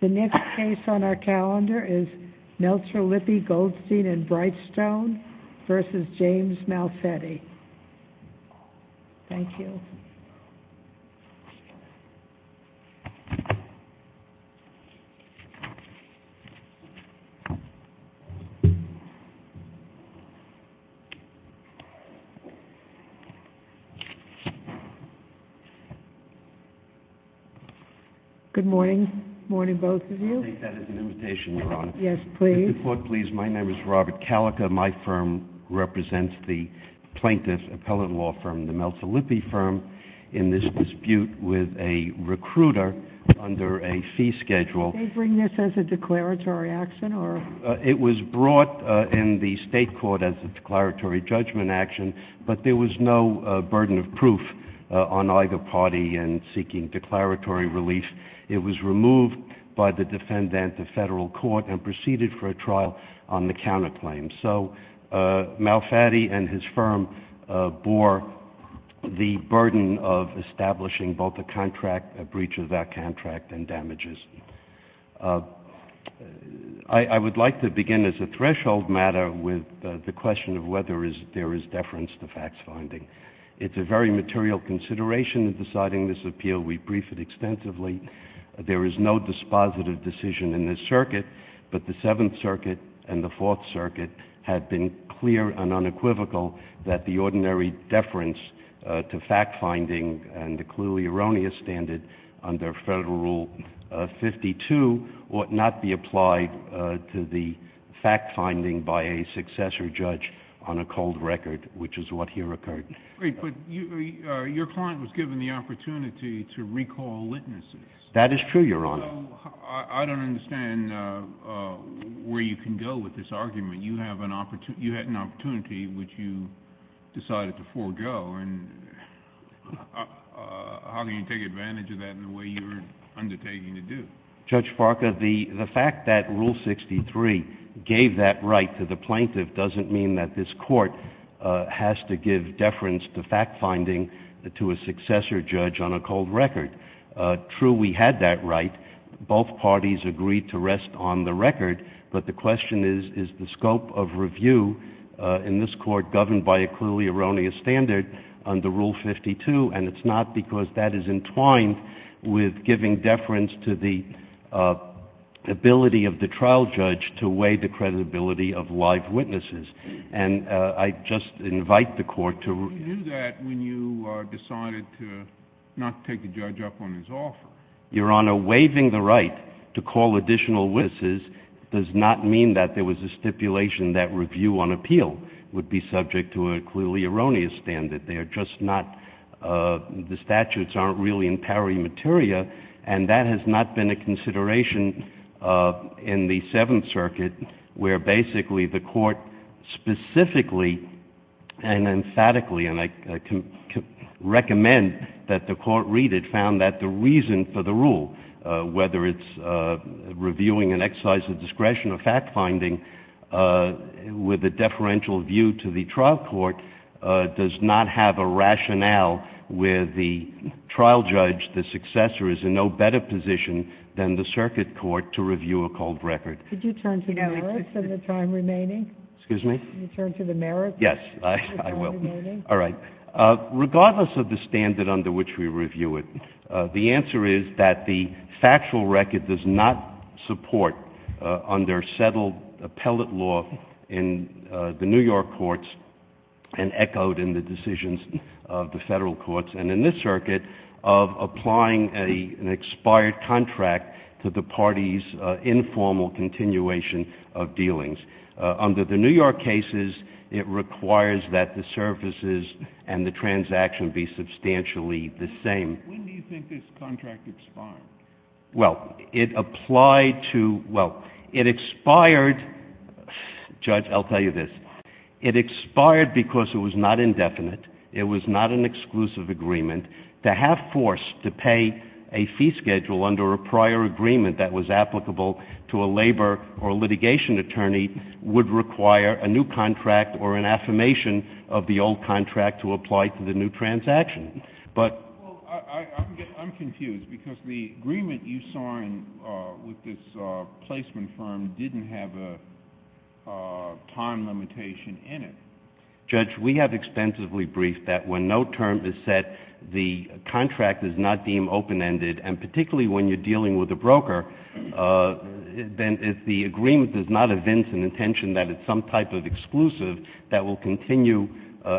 The next case on our calendar is Meltzer Lippe Goldstein & Brightstone v. James Malfetti. Thank you. Good morning, both of you. I think that is an invitation, Your Honor. Yes, please. Mr. Ford, please. My name is Robert Calica. My firm represents the plaintiff appellate law firm, the Malfetti Law Firm, and I am here today in this dispute with a recruiter under a fee schedule. Did they bring this as a declaratory action, or? It was brought in the state court as a declaratory judgment action, but there was no burden of proof on either party in seeking declaratory relief. It was removed by the defendant, the federal court, and proceeded for a trial on the counterclaim. So Malfetti and his firm bore the burden of establishing both a contract, a breach of that contract, and damages. I would like to begin as a threshold matter with the question of whether there is deference to facts finding. It is a very material consideration in deciding this appeal. We briefed it extensively. There is no dispositive decision in this circuit, but the Seventh Circuit had been clear and unequivocal that the ordinary deference to fact finding and the clearly erroneous standard under Federal Rule 52 ought not be applied to the fact finding by a successor judge on a cold record, which is what here occurred. Great. But your client was given the opportunity to recall witnesses. That is true, Your Honor. So I don't understand where you can go with this argument. You have an opportunity, which you decided to forego, and how can you take advantage of that in the way you are undertaking to do? Judge Farca, the fact that Rule 63 gave that right to the plaintiff doesn't mean that this Court has to give deference to fact finding to a successor judge on a cold record. True, we had that right. Both parties agreed to rest on the record, but the question is, is the scope of review in this Court governed by a clearly erroneous standard under Rule 52, and it's not because that is entwined with giving deference to the ability of the trial judge to weigh the credibility of live witnesses. I just invite the Court to... You didn't do that when you decided to not take the judge up on his offer. Your Honor, waiving the right to call additional witnesses does not mean that there was a stipulation that review on appeal would be subject to a clearly erroneous standard. They are just not... the statutes aren't really in pari materia, and that has not been a consideration in the Seventh Circuit, where basically the Court specifically and emphatically, and I recommend that the Court read it, found that the reason for the rule, whether it's reviewing an exercise of discretion or fact finding with a deferential view to the trial court, does not have a rationale where the trial judge, the successor, is in no better position than the circuit court to review a cold record. Could you turn to the merits of the time remaining? Excuse me? Could you turn to the merits of the time remaining? Yes, I will. All right. Regardless of the standard under which we review it, the answer is that the factual record does not support, under settled appellate law in the New York courts and echoed in the decisions of the Federal courts and in this circuit, of continuation of dealings. Under the New York cases, it requires that the services and the transaction be substantially the same. When do you think this contract expired? Well, it applied to... well, it expired... Judge, I'll tell you this. It expired because it was not indefinite, it was not an exclusive agreement to have force to pay a fee schedule under a prior agreement that was applicable to a labor or litigation attorney, would require a new contract or an affirmation of the old contract to apply to the new transaction, but... Well, I'm confused because the agreement you signed with this placement firm didn't have a time limitation in it. Judge, we have extensively briefed that when no term is set, the contract is not open-ended, and particularly when you're dealing with a broker, then if the agreement does not evince an intention that it's some type of exclusive, that will continue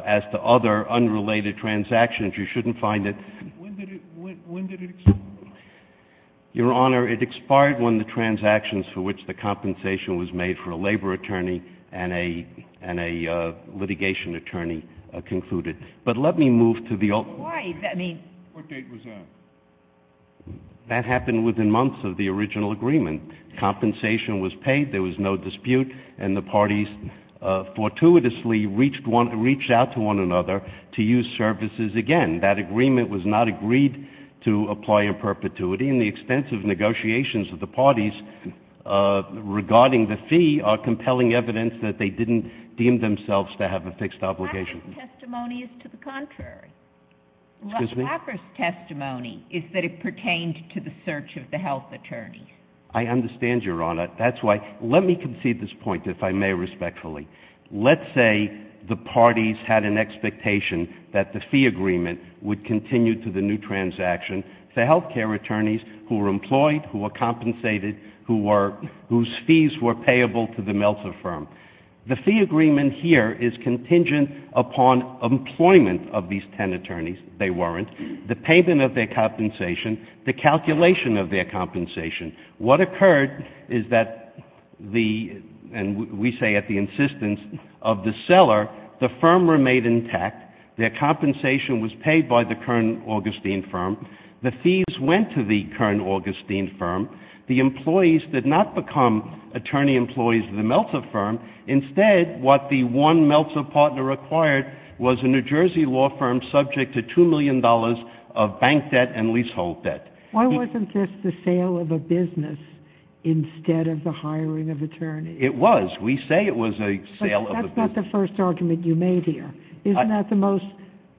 as to other unrelated transactions. You shouldn't find that... When did it expire? Your Honor, it expired when the transactions for which the compensation was made for a labor attorney and a litigation attorney concluded. But let me move to the... Why? I mean... What date was that? That happened within months of the original agreement. Compensation was paid, there was no dispute, and the parties fortuitously reached out to one another to use services again. That agreement was not agreed to apply in perpetuity, and the extensive negotiations of the parties regarding the fee are compelling evidence that they didn't deem themselves to have a fixed obligation. Laffer's testimony is to the contrary. Excuse me? Laffer's testimony is that it pertained to the search of the health attorneys. I understand, Your Honor. That's why... Let me concede this point, if I may respectfully. Let's say the parties had an expectation that the fee agreement would continue to the new transaction for health care attorneys who were employed, who were compensated, whose fees were payable to the Meltzer firm. The fee agreement here is contingent upon employment of these ten attorneys. They weren't. The payment of their compensation, the calculation of their compensation. What occurred is that the... and we say at the insistence of the seller, the firm remained intact, their compensation was paid by the Kern Augustine firm, the fees went to the Kern Augustine firm, the employees did not become attorney employees of the Meltzer firm. Instead, what the one Meltzer partner acquired was a New Jersey law firm subject to $2 million of bank debt and leasehold debt. Why wasn't this the sale of a business instead of the hiring of attorneys? It was. We say it was a sale of a business. But that's not the first argument you made here. Isn't that the most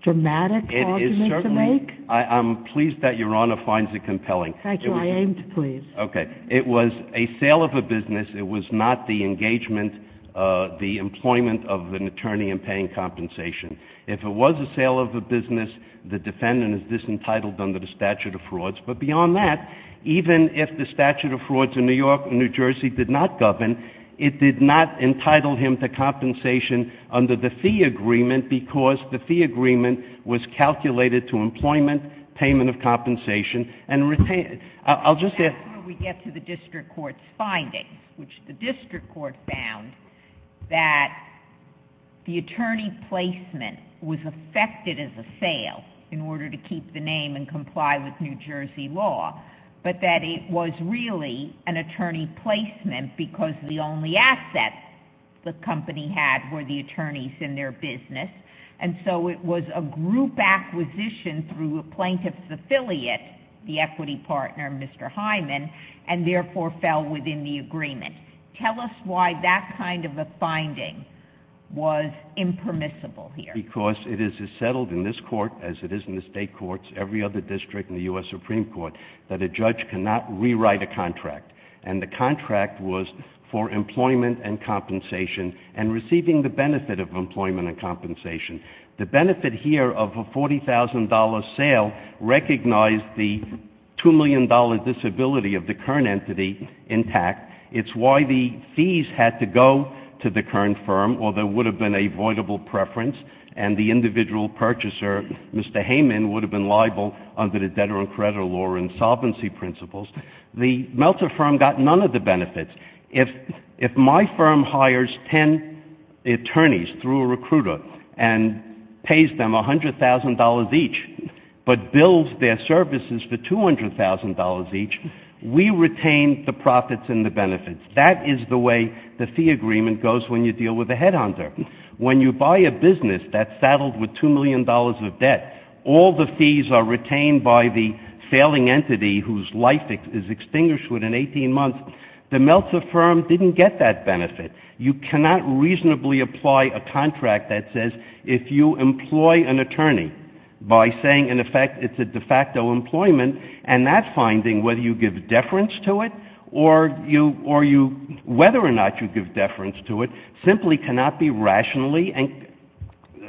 dramatic argument to make? I'm pleased that Your Honor finds it compelling. Thank you. I aimed to please. Okay. It was a sale of a business. It was not the engagement, the employment of an attorney in paying compensation. If it was a sale of a business, the defendant is disentitled under the statute of frauds. But beyond that, even if the statute of frauds in New York and New Jersey did not govern, it did not entitle him to compensation under the fee agreement because the fee agreement was calculated to employment, payment of compensation, and... I'll just say... which the district court found that the attorney placement was affected as a sale in order to keep the name and comply with New Jersey law, but that it was really an attorney placement because the only assets the company had were the attorneys in their business. It was a group acquisition through a plaintiff's affiliate, the equity partner, Mr. Hyman, and therefore fell within the agreement. Tell us why that kind of a finding was impermissible here. Because it is as settled in this court as it is in the state courts, every other district in the U.S. Supreme Court, that a judge cannot rewrite a contract. And the contract was for employment and compensation and receiving the benefit of employment and compensation. The benefit here of a $40,000 sale recognized the $2 million disability of the current entity intact. It's why the fees had to go to the current firm or there would have been a voidable preference and the individual purchaser, Mr. Hyman, would have been liable under the debtor and creditor law insolvency principles. The Meltzer firm got none of the benefits. If my firm hires 10 attorneys through a recruiter and pays them $100,000 each but bills their services for $200,000 each, we retain the profits and the benefits. That is the way the fee agreement goes when you deal with a headhunter. When you buy a business that's saddled with $2 million of debt, all the fees are retained by the failing entity whose life is extinguished within 18 months, the Meltzer firm didn't get that benefit. You cannot reasonably apply a contract that says if you employ an attorney by saying in effect it's a de facto employment and that finding, whether you give deference to it or whether or not you give deference to it, simply cannot be rationally,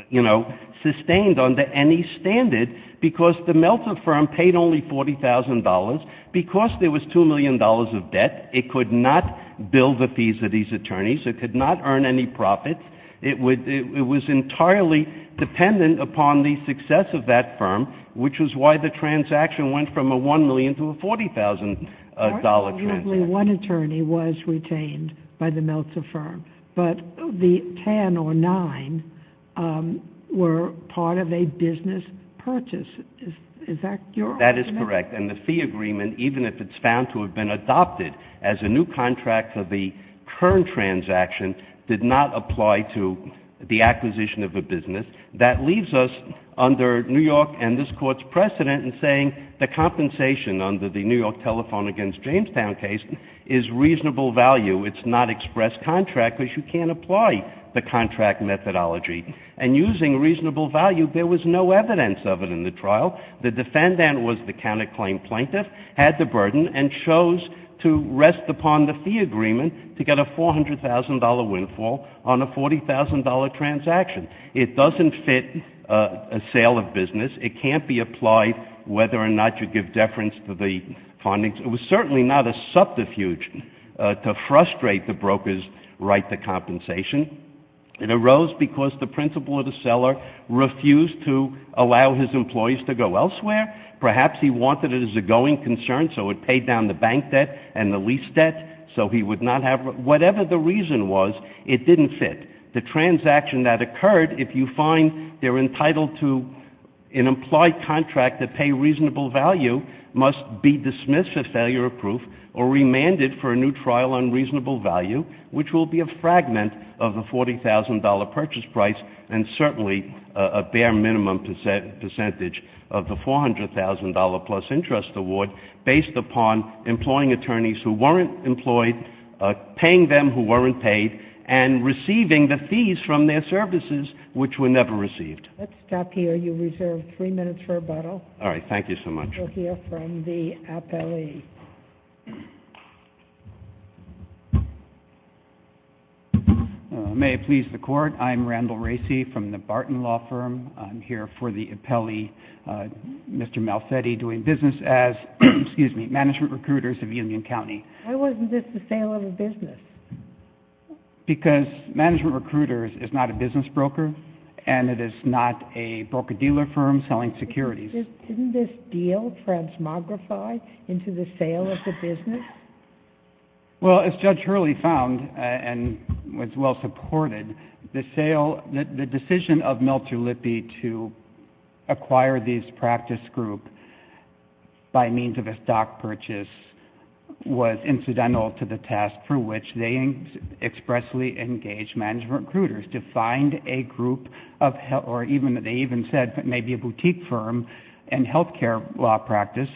you know, sustained under any standard because the Meltzer firm paid only $40,000. Because there was $2 million of debt, it could not bill the fees of these attorneys, it could not earn any profits, it was entirely dependent upon the success of that firm, which was why the transaction went from a $1 million to a $40,000 transaction. Only one attorney was retained by the Meltzer firm, but the 10 or 9 were part of a business purchase. Is that your argument? That is correct. And the fee agreement, even if it's found to have been adopted as a new contract for the current transaction, did not apply to the acquisition of a business. That leaves us under New York and this Court's precedent in saying the compensation under the New York telephone against Jamestown case is reasonable value. It's not express contract because you can't apply the contract methodology. And using reasonable value, there was no evidence of it in the trial. The defendant was the counterclaim plaintiff, had the burden, and chose to rest upon the fee agreement to get a $400,000 windfall on a $40,000 transaction. It doesn't fit a sale of business. It can't be applied whether or not you give deference to the findings. It was certainly not a subterfuge to frustrate the broker's right to compensation. It arose because the principal or the seller refused to allow his employees to go elsewhere. Perhaps he wanted it as a going concern, so it paid down the bank debt and the lease debt, so he would not have — whatever the reason was, it didn't fit. The transaction that occurred, if you find they're entitled to an employed contract that pay reasonable value, must be dismissed for failure of proof or remanded for a new trial on reasonable value, which will be a fragment of the $40,000 purchase price and certainly a bare minimum percentage of the $400,000 plus interest award based upon employing attorneys who weren't employed, paying them who weren't paid, and receiving the fees from their services, which were never received. Let's stop here. You reserve three minutes for rebuttal. All right. Thank you so much. We'll hear from the appellee. May it please the Court, I'm Randall Racey from the Barton Law Firm. I'm here for the appellee, Mr. Malfetti, doing business as — excuse me — management recruiters of Union County. Why wasn't this the sale of a business? Because management recruiters is not a business broker, and it is not a broker-dealer firm selling securities. Didn't this deal transmogrify into the sale of the business? Well, as Judge Hurley found and was well supported, the sale — the decision of Milter Lippe to acquire this practice group by means of a stock purchase was incidental to the task for which they expressly engaged management recruiters to find a group of — or even — they even said maybe a boutique firm and health care law practice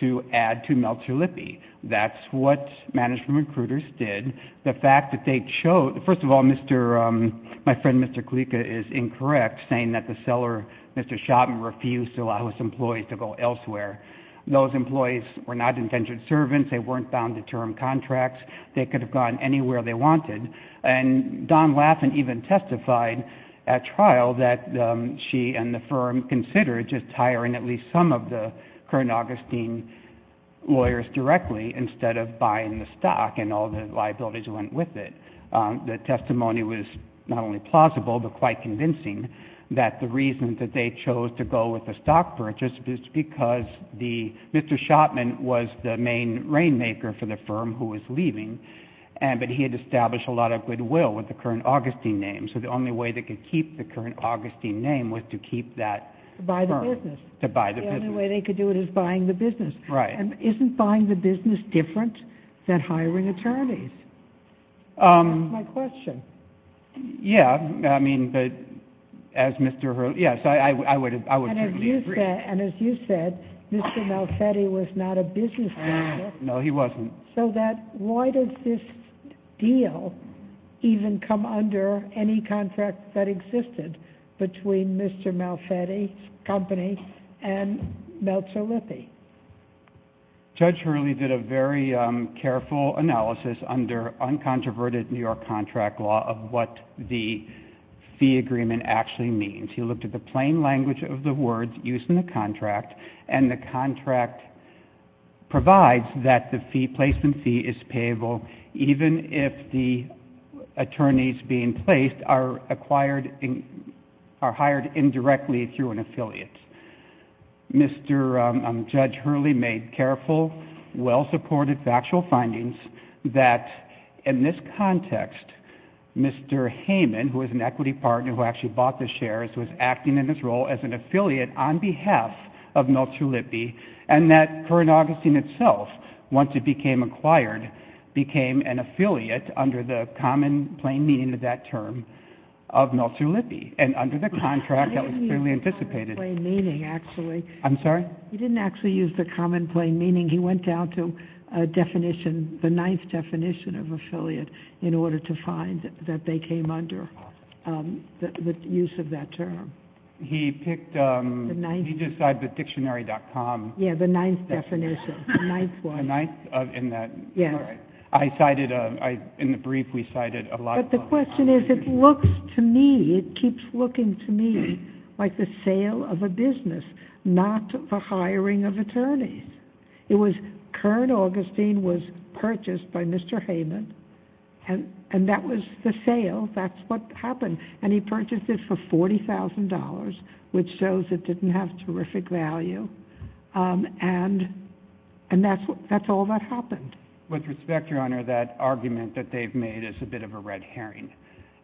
to add to Milter Lippe. That's what management recruiters did. The fact that they chose — first of all, Mr. — my friend, Mr. Kalika, is incorrect saying that the seller, Mr. Schottman, refused to allow his employees to go elsewhere. Those employees were not indentured servants. They weren't bound to term contracts. They could have gone anywhere they wanted. And Don Laffin even testified at trial that she and the firm considered just hiring at least some of the current Augustine lawyers directly instead of buying the stock, and all the liabilities went with it. The testimony was not only plausible but quite convincing that the reason that they chose to go with the stock purchase was because the — Mr. Schottman was the main rainmaker for the firm who was leaving, and — but he had established a lot of goodwill with the current Augustine name, so the only way they could keep the current Augustine name was to keep that — To buy the business. To buy the business. The only way they could do it is buying the business. Right. And isn't buying the business different than hiring attorneys? That's my question. Yeah. I mean, as Mr. — yes, I would — I would certainly agree. And as you said, Mr. Malfetti was not a business owner. No, he wasn't. So that — why does this deal even come under any contract that existed between Mr. Malfetti's Judge Hurley did a very careful analysis under uncontroverted New York contract law of what the fee agreement actually means. He looked at the plain language of the words used in the contract, and the contract provides that the fee — placement fee is payable even if the attorneys being placed are acquired — are hired indirectly through an affiliate. Mr. Judge Hurley made careful, well-supported factual findings that, in this context, Mr. Heyman, who is an equity partner who actually bought the shares, was acting in his role as an affiliate on behalf of Miltrue Lippe, and that current Augustine itself, once it became acquired, became an affiliate under the common, plain meaning of that term of Miltrue Lippe. And under the contract, that was clearly anticipated. He didn't use the common, plain meaning, actually. I'm sorry? He didn't actually use the common, plain meaning. He went down to a definition, the ninth definition of affiliate, in order to find that they came under the use of that term. He picked — The ninth — He just said the dictionary.com. Yeah, the ninth definition. The ninth one. The ninth in that — Yes. All right. I cited — in the brief, we cited a lot of — My question is, it looks to me, it keeps looking to me, like the sale of a business, not the hiring of attorneys. It was current Augustine was purchased by Mr. Heyman, and that was the sale, that's what happened. And he purchased it for $40,000, which shows it didn't have terrific value, and that's all that happened. With respect, Your Honor, that argument that they've made is a bit of a red herring.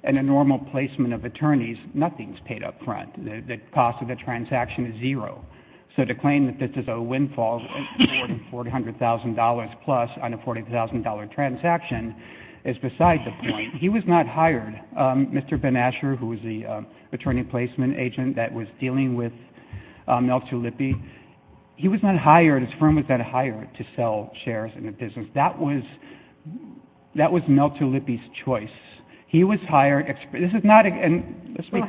In a normal placement of attorneys, nothing's paid up front. The cost of the transaction is zero. So to claim that this is a windfall of $400,000-plus on a $40,000 transaction is beside the point. He was not hired. Mr. Ben Asher, who was the attorney placement agent that was dealing with Mel Chalippy, he was not hired. His firm was not hired to sell shares in the business. That was Mel Chalippy's choice. He was hired — Well,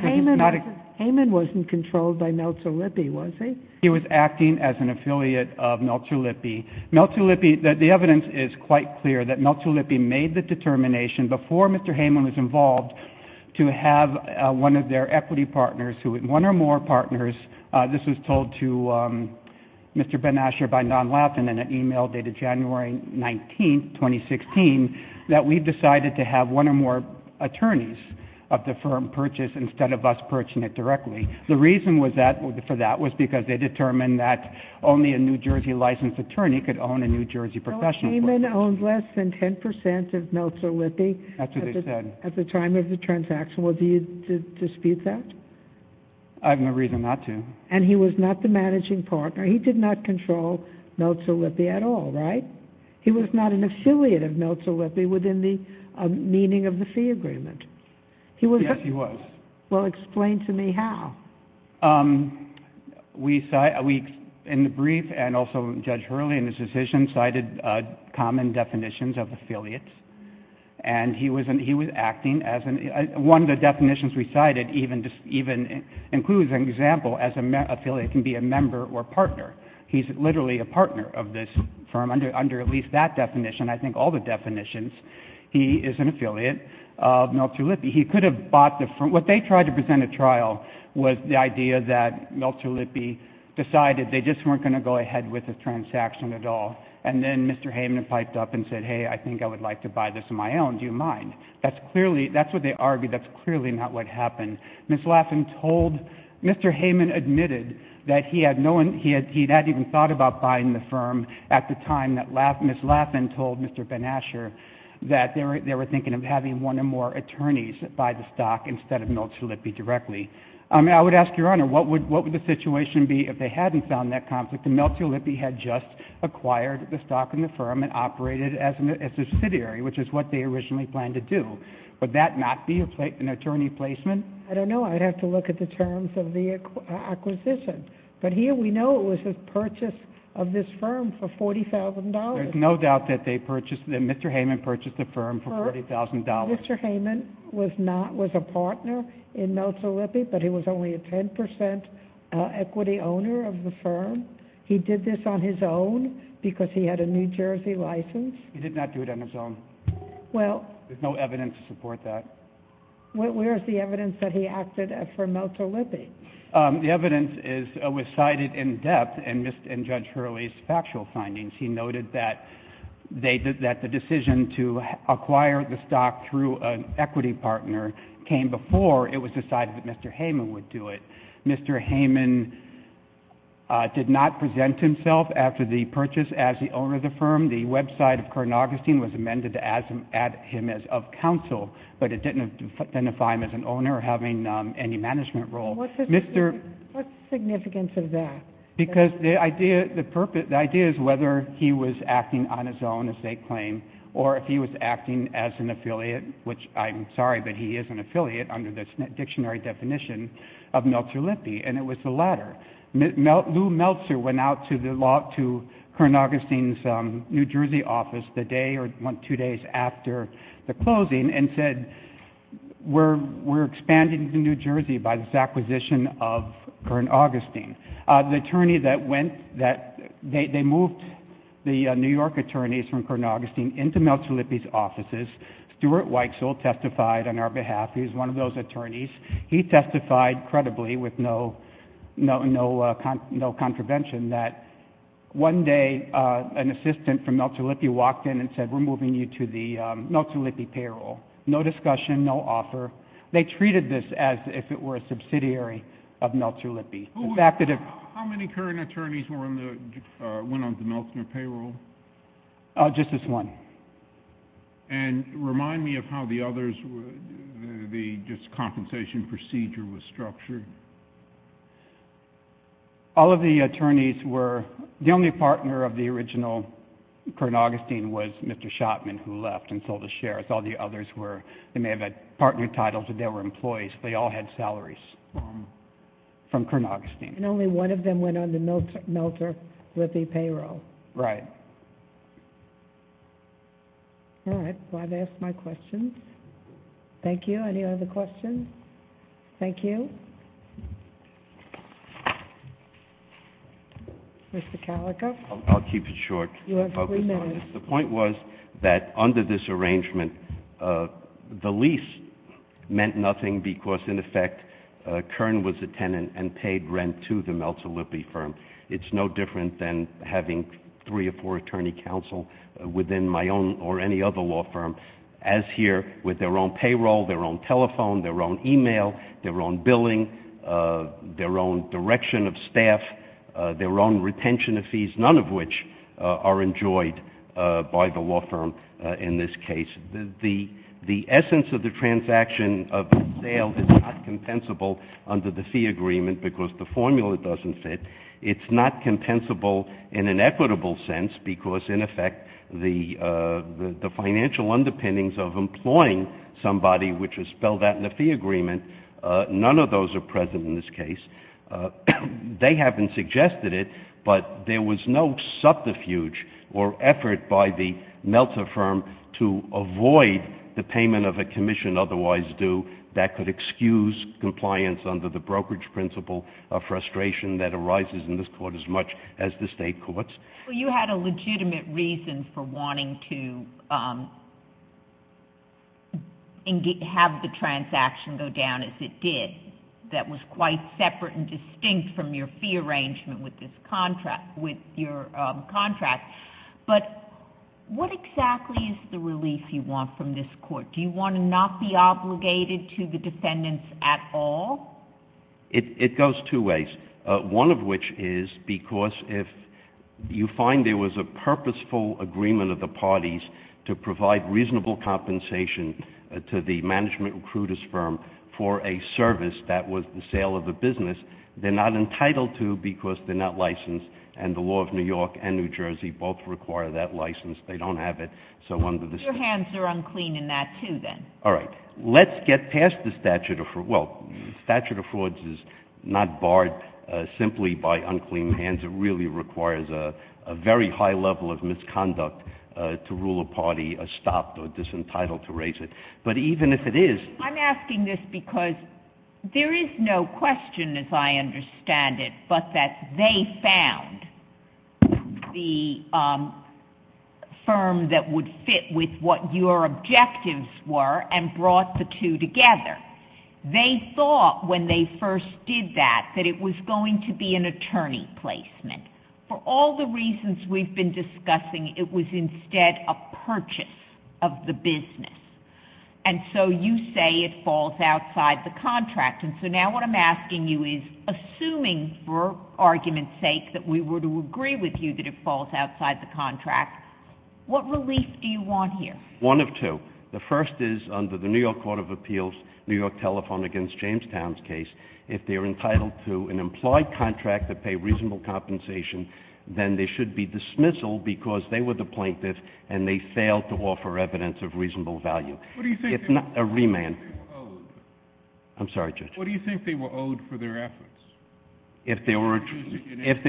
Heyman wasn't controlled by Mel Chalippy, was he? He was acting as an affiliate of Mel Chalippy. The evidence is quite clear that Mel Chalippy made the determination before Mr. Heyman was Mr. Ben Asher by non-laughing in an email dated January 19, 2016, that we decided to have one or more attorneys of the firm purchase instead of us purchasing it directly. The reason was that — for that was because they determined that only a New Jersey licensed attorney could own a New Jersey professional firm. So Heyman owned less than 10 percent of Mel Chalippy — That's what they said. — at the time of the transaction. Was he to dispute that? I have no reason not to. And he was not the managing partner. He did not control Mel Chalippy at all, right? He was not an affiliate of Mel Chalippy within the meaning of the fee agreement. He was — Yes, he was. Well, explain to me how. We — in the brief and also Judge Hurley in his decision cited common definitions of affiliates, and he was acting as an — one of the definitions we cited even includes an example as an affiliate can be a member or partner. He's literally a partner of this firm under at least that definition. I think all the definitions. He is an affiliate of Mel Chalippy. He could have bought the firm — what they tried to present at trial was the idea that Mel Chalippy decided they just weren't going to go ahead with the transaction at all. And then Mr. Heyman piped up and said, hey, I think I would like to buy this on my own. Do you mind? That's clearly — that's what they argued. That's clearly not what happened. Ms. Laffin told — Mr. Heyman admitted that he had no — he had not even thought about buying the firm at the time that — Ms. Laffin told Mr. Ben Asher that they were thinking of having one or more attorneys buy the stock instead of Mel Chalippy directly. I would ask Your Honor, what would the situation be if they hadn't found that conflict and Mel Chalippy had just acquired the stock in the firm and operated as a subsidiary, which is what they originally planned to do? Would that not be an attorney placement? I don't know. I'd have to look at the terms of the acquisition. But here we know it was a purchase of this firm for $40,000. There's no doubt that they purchased — that Mr. Heyman purchased the firm for $40,000. Mr. Heyman was not — was a partner in Mel Chalippy, but he was only a 10 percent equity owner of the firm. He did this on his own because he had a New Jersey license. He did not do it on his own. Well — There's no evidence to support that. Where's the evidence that he acted for Mel Chalippy? The evidence is — was cited in depth in Judge Hurley's factual findings. He noted that they — that the decision to acquire the stock through an equity partner came before it was decided that Mr. Heyman would do it. Mr. Heyman did not present himself after the purchase as the owner of the firm. The website of Kern Augustine was amended to add him as of counsel, but it didn't identify him as an owner or having any management role. What's the significance of that? Because the idea — the idea is whether he was acting on his own, as they claim, or if he was acting as an affiliate, which I'm sorry, but he is an affiliate under the dictionary definition of Mel Chalippy, and it was the latter. Lou Meltzer went out to the law — to Kern Augustine's New Jersey office the day or one, two days after the closing and said, we're expanding to New Jersey by this acquisition of Kern Augustine. The attorney that went — that — they moved the New York attorneys from Kern Augustine into Mel Chalippy's offices. Stuart Weitzel testified on our behalf. He was one of those attorneys. He testified credibly with no — no contravention that one day an assistant from Mel Chalippy walked in and said, we're moving you to the Mel Chalippy payroll. No discussion. No offer. They treated this as if it were a subsidiary of Mel Chalippy. The fact that — How many current attorneys were on the — went on the Meltzer payroll? Just this one. And remind me of how the others were — the just compensation procedure was structured. All of the attorneys were — the only partner of the original Kern Augustine was Mr. Shotman who left and sold the shares. All the others were — they may have had partner titles, but they were employees. They all had salaries from — from Kern Augustine. And only one of them went on the Meltzer — Mel Chalippy payroll. Right. All right. Well, I've asked my questions. Thank you. Any other questions? Thank you. Mr. Kalica. I'll keep it short. You have three minutes. I'll focus on this. The point was that under this arrangement, the lease meant nothing because, in effect, Kern was a tenant and paid rent to the Mel Chalippy firm. It's no different than having three or four attorney counsel within my own or any other law firm, as here, with their own payroll, their own telephone, their own email, their own billing, their own direction of staff, their own retention of fees, none of which are enjoyed by the law firm in this case. The essence of the transaction of the sale is not compensable under the fee agreement because the formula doesn't fit. It's not compensable in an equitable sense because, in effect, the financial underpinnings of employing somebody which is spelled out in the fee agreement, none of those are present in this case. They haven't suggested it, but there was no subterfuge or effort by the Meltzer firm to avoid the payment of a commission otherwise due that could excuse compliance under the legal frustration that arises in this court as much as the state courts. You had a legitimate reason for wanting to have the transaction go down as it did, that was quite separate and distinct from your fee arrangement with this contract, with your contract, but what exactly is the release you want from this court? Do you want to not be obligated to the defendants at all? It goes two ways, one of which is because if you find there was a purposeful agreement of the parties to provide reasonable compensation to the management recruiter's firm for a service that was the sale of the business, they're not entitled to because they're not licensed and the law of New York and New Jersey both require that license. They don't have it. So under the statute— Your hands are unclean in that, too, then. All right. Let's get past the statute of—well, the statute of frauds is not barred simply by unclean hands. It really requires a very high level of misconduct to rule a party stopped or disentitled to raise it. But even if it is— I'm asking this because there is no question, as I understand it, but that they found the what your objectives were and brought the two together. They thought when they first did that that it was going to be an attorney placement. For all the reasons we've been discussing, it was instead a purchase of the business. And so you say it falls outside the contract. And so now what I'm asking you is, assuming for argument's sake that we were to agree with you that it falls outside the contract, what relief do you want here? One of two. The first is, under the New York Court of Appeals, New York telephone against Jamestown's case, if they're entitled to an implied contract to pay reasonable compensation, then they should be dismissal because they were the plaintiff and they failed to offer evidence of reasonable value. If not— What do you think they were owed? I'm sorry, Judge. What do you think they were owed for their efforts? If there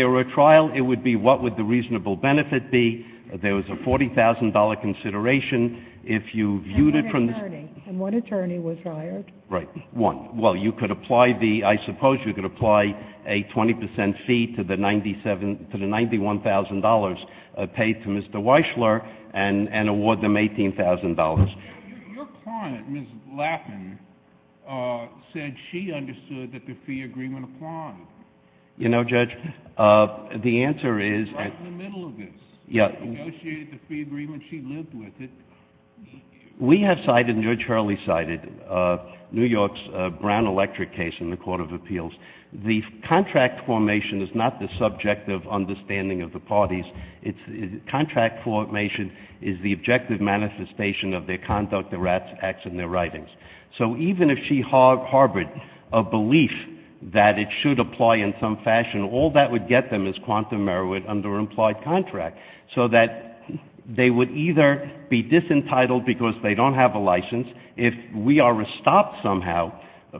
were a trial, it would be what would the reasonable benefit be. There was a $40,000 consideration. If you viewed it from— And what attorney? And what attorney was hired? Right. One. Well, you could apply the—I suppose you could apply a 20 percent fee to the $91,000 paid to Mr. Weissler and award them $18,000. Your client, Ms. Lappin, said she understood that the fee agreement applied. You know, Judge, the answer is— Right in the middle of this. Yeah. She negotiated the fee agreement. She lived with it. We have cited, and Judge Hurley cited, New York's Brown Electric case in the Court of Appeals. The contract formation is not the subjective understanding of the parties. Contract formation is the objective manifestation of their conduct, their acts, and their writings. So even if she harbored a belief that it should apply in some fashion, all that would get them is quantum merit under an implied contract, so that they would either be disentitled because they don't have a license. If we are stopped somehow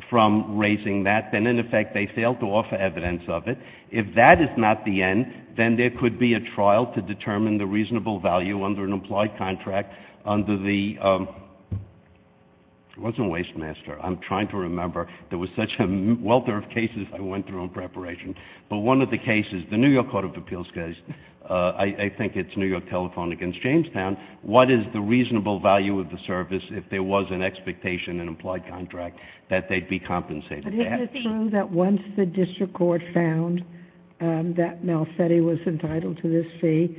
from raising that, then, in effect, they fail to offer evidence of it. If that is not the end, then there could be a trial to determine the reasonable value under an implied contract under the—it wasn't Waste Master. I'm trying to remember. There was such a welter of cases I went through in preparation. But one of the cases, the New York Court of Appeals case, I think it's New York Telephone against Jamestown. What is the reasonable value of the service if there was an expectation, an implied contract, that they'd be compensated? But isn't it true that once the district court found that Malfetti was entitled to this fee,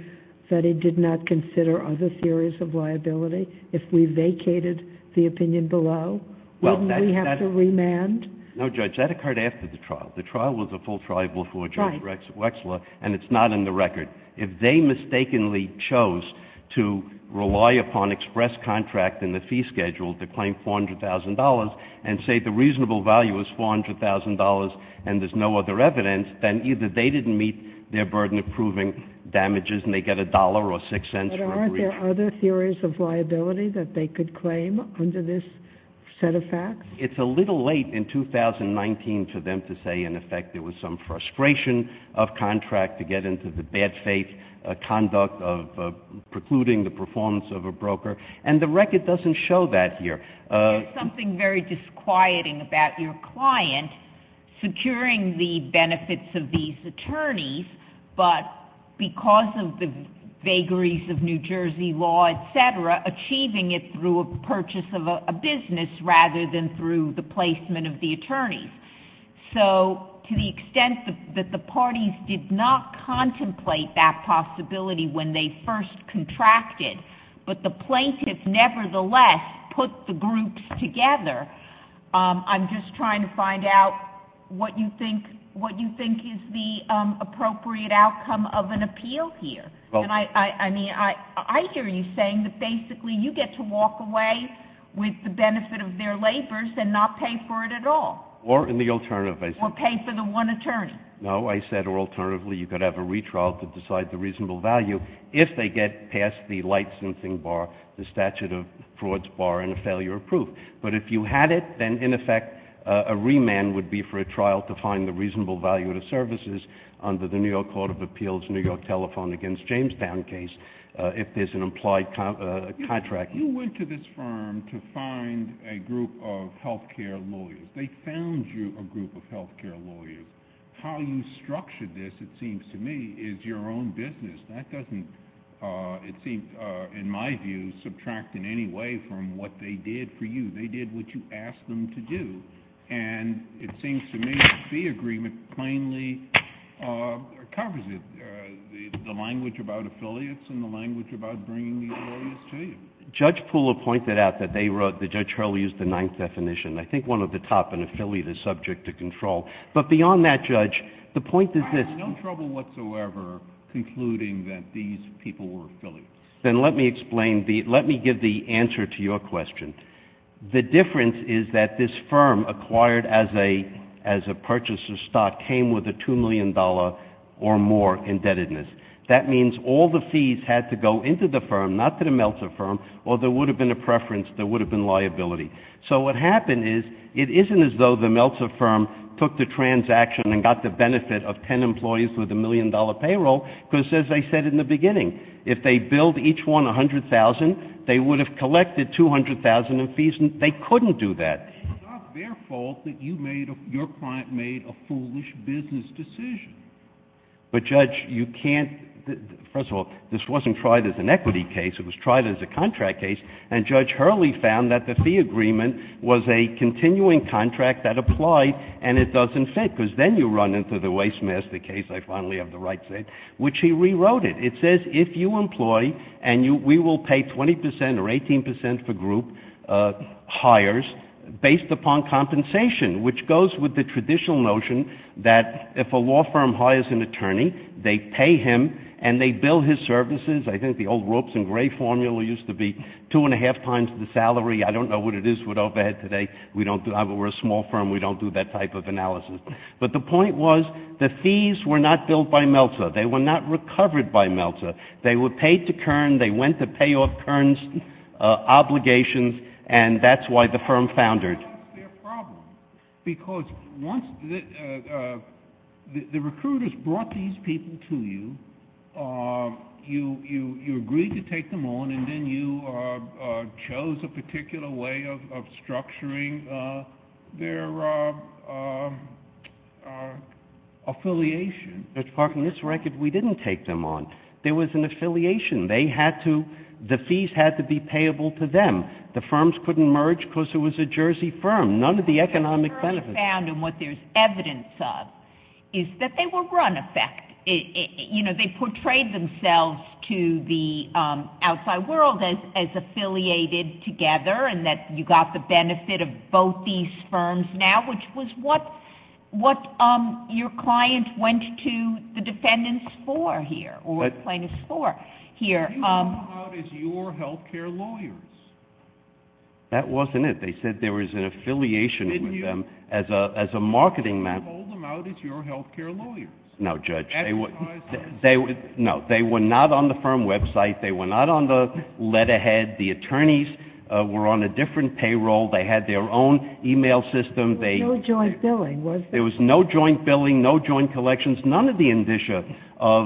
that it did not consider other theories of liability? If we vacated the opinion below, wouldn't we have to remand? No, Judge, that occurred after the trial. The trial was a full trial before Judge Wechsler, and it's not in the record. If they mistakenly chose to rely upon express contract in the fee schedule to claim $400,000 and say the reasonable value is $400,000 and there's no other evidence, then either they didn't meet their burden of proving damages, and they get $1 or $0.06 for a breach— But aren't there other theories of liability that they could claim under this set of facts? It's a little late in 2019 for them to say, in effect, there was some frustration of contract to get into the bad faith conduct of precluding the performance of a broker. And the record doesn't show that here. There's something very disquieting about your client securing the benefits of these attorneys, but because of the vagaries of New Jersey law, et cetera, achieving it through a purchase of a business rather than through the placement of the attorneys. So to the extent that the parties did not contemplate that possibility when they first contracted, but the plaintiffs nevertheless put the groups together, I'm just trying to find out what you think is the appropriate outcome of an appeal here. And I mean, I hear you saying that basically you get to walk away with the benefit of their labors and not pay for it at all. Or in the alternative, I said— Or pay for the one attorney. No, I said, or alternatively, you could have a retrial to decide the reasonable value if they get past the light-sensing bar, the statute of frauds bar, and a failure of proof. But if you had it, then in effect, a remand would be for a trial to find the reasonable value to services under the New York Court of Appeals, New York telephone against Jamestown case, if there's an implied contract. You went to this firm to find a group of healthcare lawyers. They found you a group of healthcare lawyers. How you structured this, it seems to me, is your own business. That doesn't, it seems, in my view, subtract in any way from what they did for you. They did what you asked them to do. And it seems to me the agreement plainly covers it, the language about affiliates and the language about bringing these lawyers to you. Judge Pooler pointed out that they wrote—that Judge Hurley used the ninth definition. I think one at the top, an affiliate is subject to control. But beyond that, Judge, the point is this— I had no trouble whatsoever concluding that these people were affiliates. Then let me explain, let me give the answer to your question. The difference is that this firm acquired as a purchaser's stock came with a $2 million or more indebtedness. That means all the fees had to go into the firm, not to the Meltzer firm, or there would have been a preference, there would have been liability. So what happened is, it isn't as though the Meltzer firm took the transaction and got the benefit of 10 employees with a $1 million payroll, because as I said in the beginning, if they billed each one $100,000, they would have collected $200,000 in fees and they couldn't do that. It's not their fault that you made—your client made a foolish business decision. But Judge, you can't—first of all, this wasn't tried as an equity case, it was tried as a contract case, and Judge Hurley found that the fee agreement was a continuing contract that applied, and it doesn't fit, because then you run into the Waste Master case—I finally have the right to say it—which he rewrote it. It says if you employ, and we will pay 20 percent or 18 percent for group hires based upon compensation, which goes with the traditional notion that if a law firm hires an attorney, they pay him and they bill his services. I think the old ropes and gray formula used to be two and a half times the salary. I don't know what it is with overhead today. We don't—we're a small firm, we don't do that type of analysis. But the point was, the fees were not billed by Meltzer. They were not recovered by Meltzer. They were paid to Kern, they went to pay off Kern's obligations, and that's why the firm foundered. It's not a fair problem, because once the recruiters brought these people to you, you agreed to take them on, and then you chose a particular way of structuring their affiliation. But, for this record, we didn't take them on. There was an affiliation. They had to—the fees had to be payable to them. The firms couldn't merge because it was a Jersey firm. None of the economic benefits— What the firm found, and what there's evidence of, is that they were run effect. They portrayed themselves to the outside world as affiliated together, and that you got the benefit of both these firms now, which was what your client went to the defendants for here, or plaintiffs for here. You told them out as your health care lawyers. That wasn't it. They said there was an affiliation in them as a marketing man— You told them out as your health care lawyers. No, Judge. They were— Advertised? No. They were not on the firm website. They were not on the letterhead. The attorneys were on a different payroll. They had their own email system. There was no joint billing, was there? There was no joint billing, no joint collections, none of the indicia of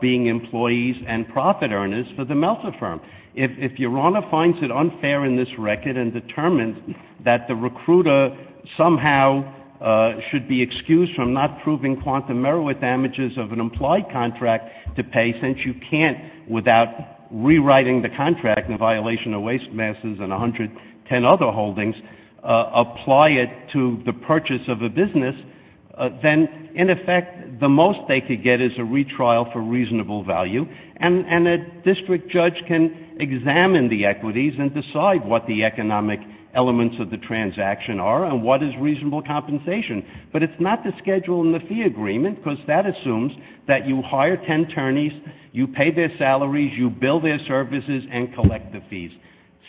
being employees and profit earners for the Meltzer firm. If your honor finds it unfair in this record and determines that the recruiter somehow should be excused from not proving quantum merit damages of an implied contract to pay since you can't, without rewriting the contract in violation of waste masses and 110 other holdings, apply it to the purchase of a business, then, in effect, the most they could get is a retrial for reasonable value, and a district judge can examine the equities and decide what the economic elements of the transaction are and what is reasonable compensation. But it's not the schedule and the fee agreement, because that assumes that you hire 10 attorneys, you pay their salaries, you bill their services, and collect the fees.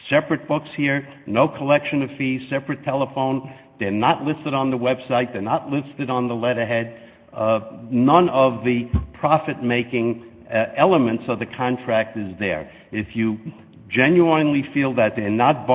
Separate books here, no collection of fees, separate telephone. They're not listed on the website. They're not listed on the letterhead. None of the profit-making elements of the contract is there. If you genuinely feel that they're not,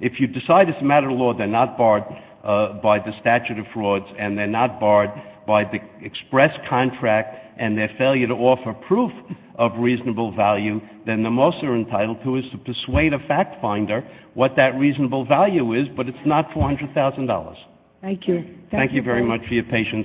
if you decide it's a matter of law they're not barred by the statute of frauds and they're not barred by the express contract and their failure to offer proof of reasonable value, then the most they're entitled to is to persuade a fact finder what that reasonable value is, but it's not $400,000. Thank you. Thank you very much for your patience.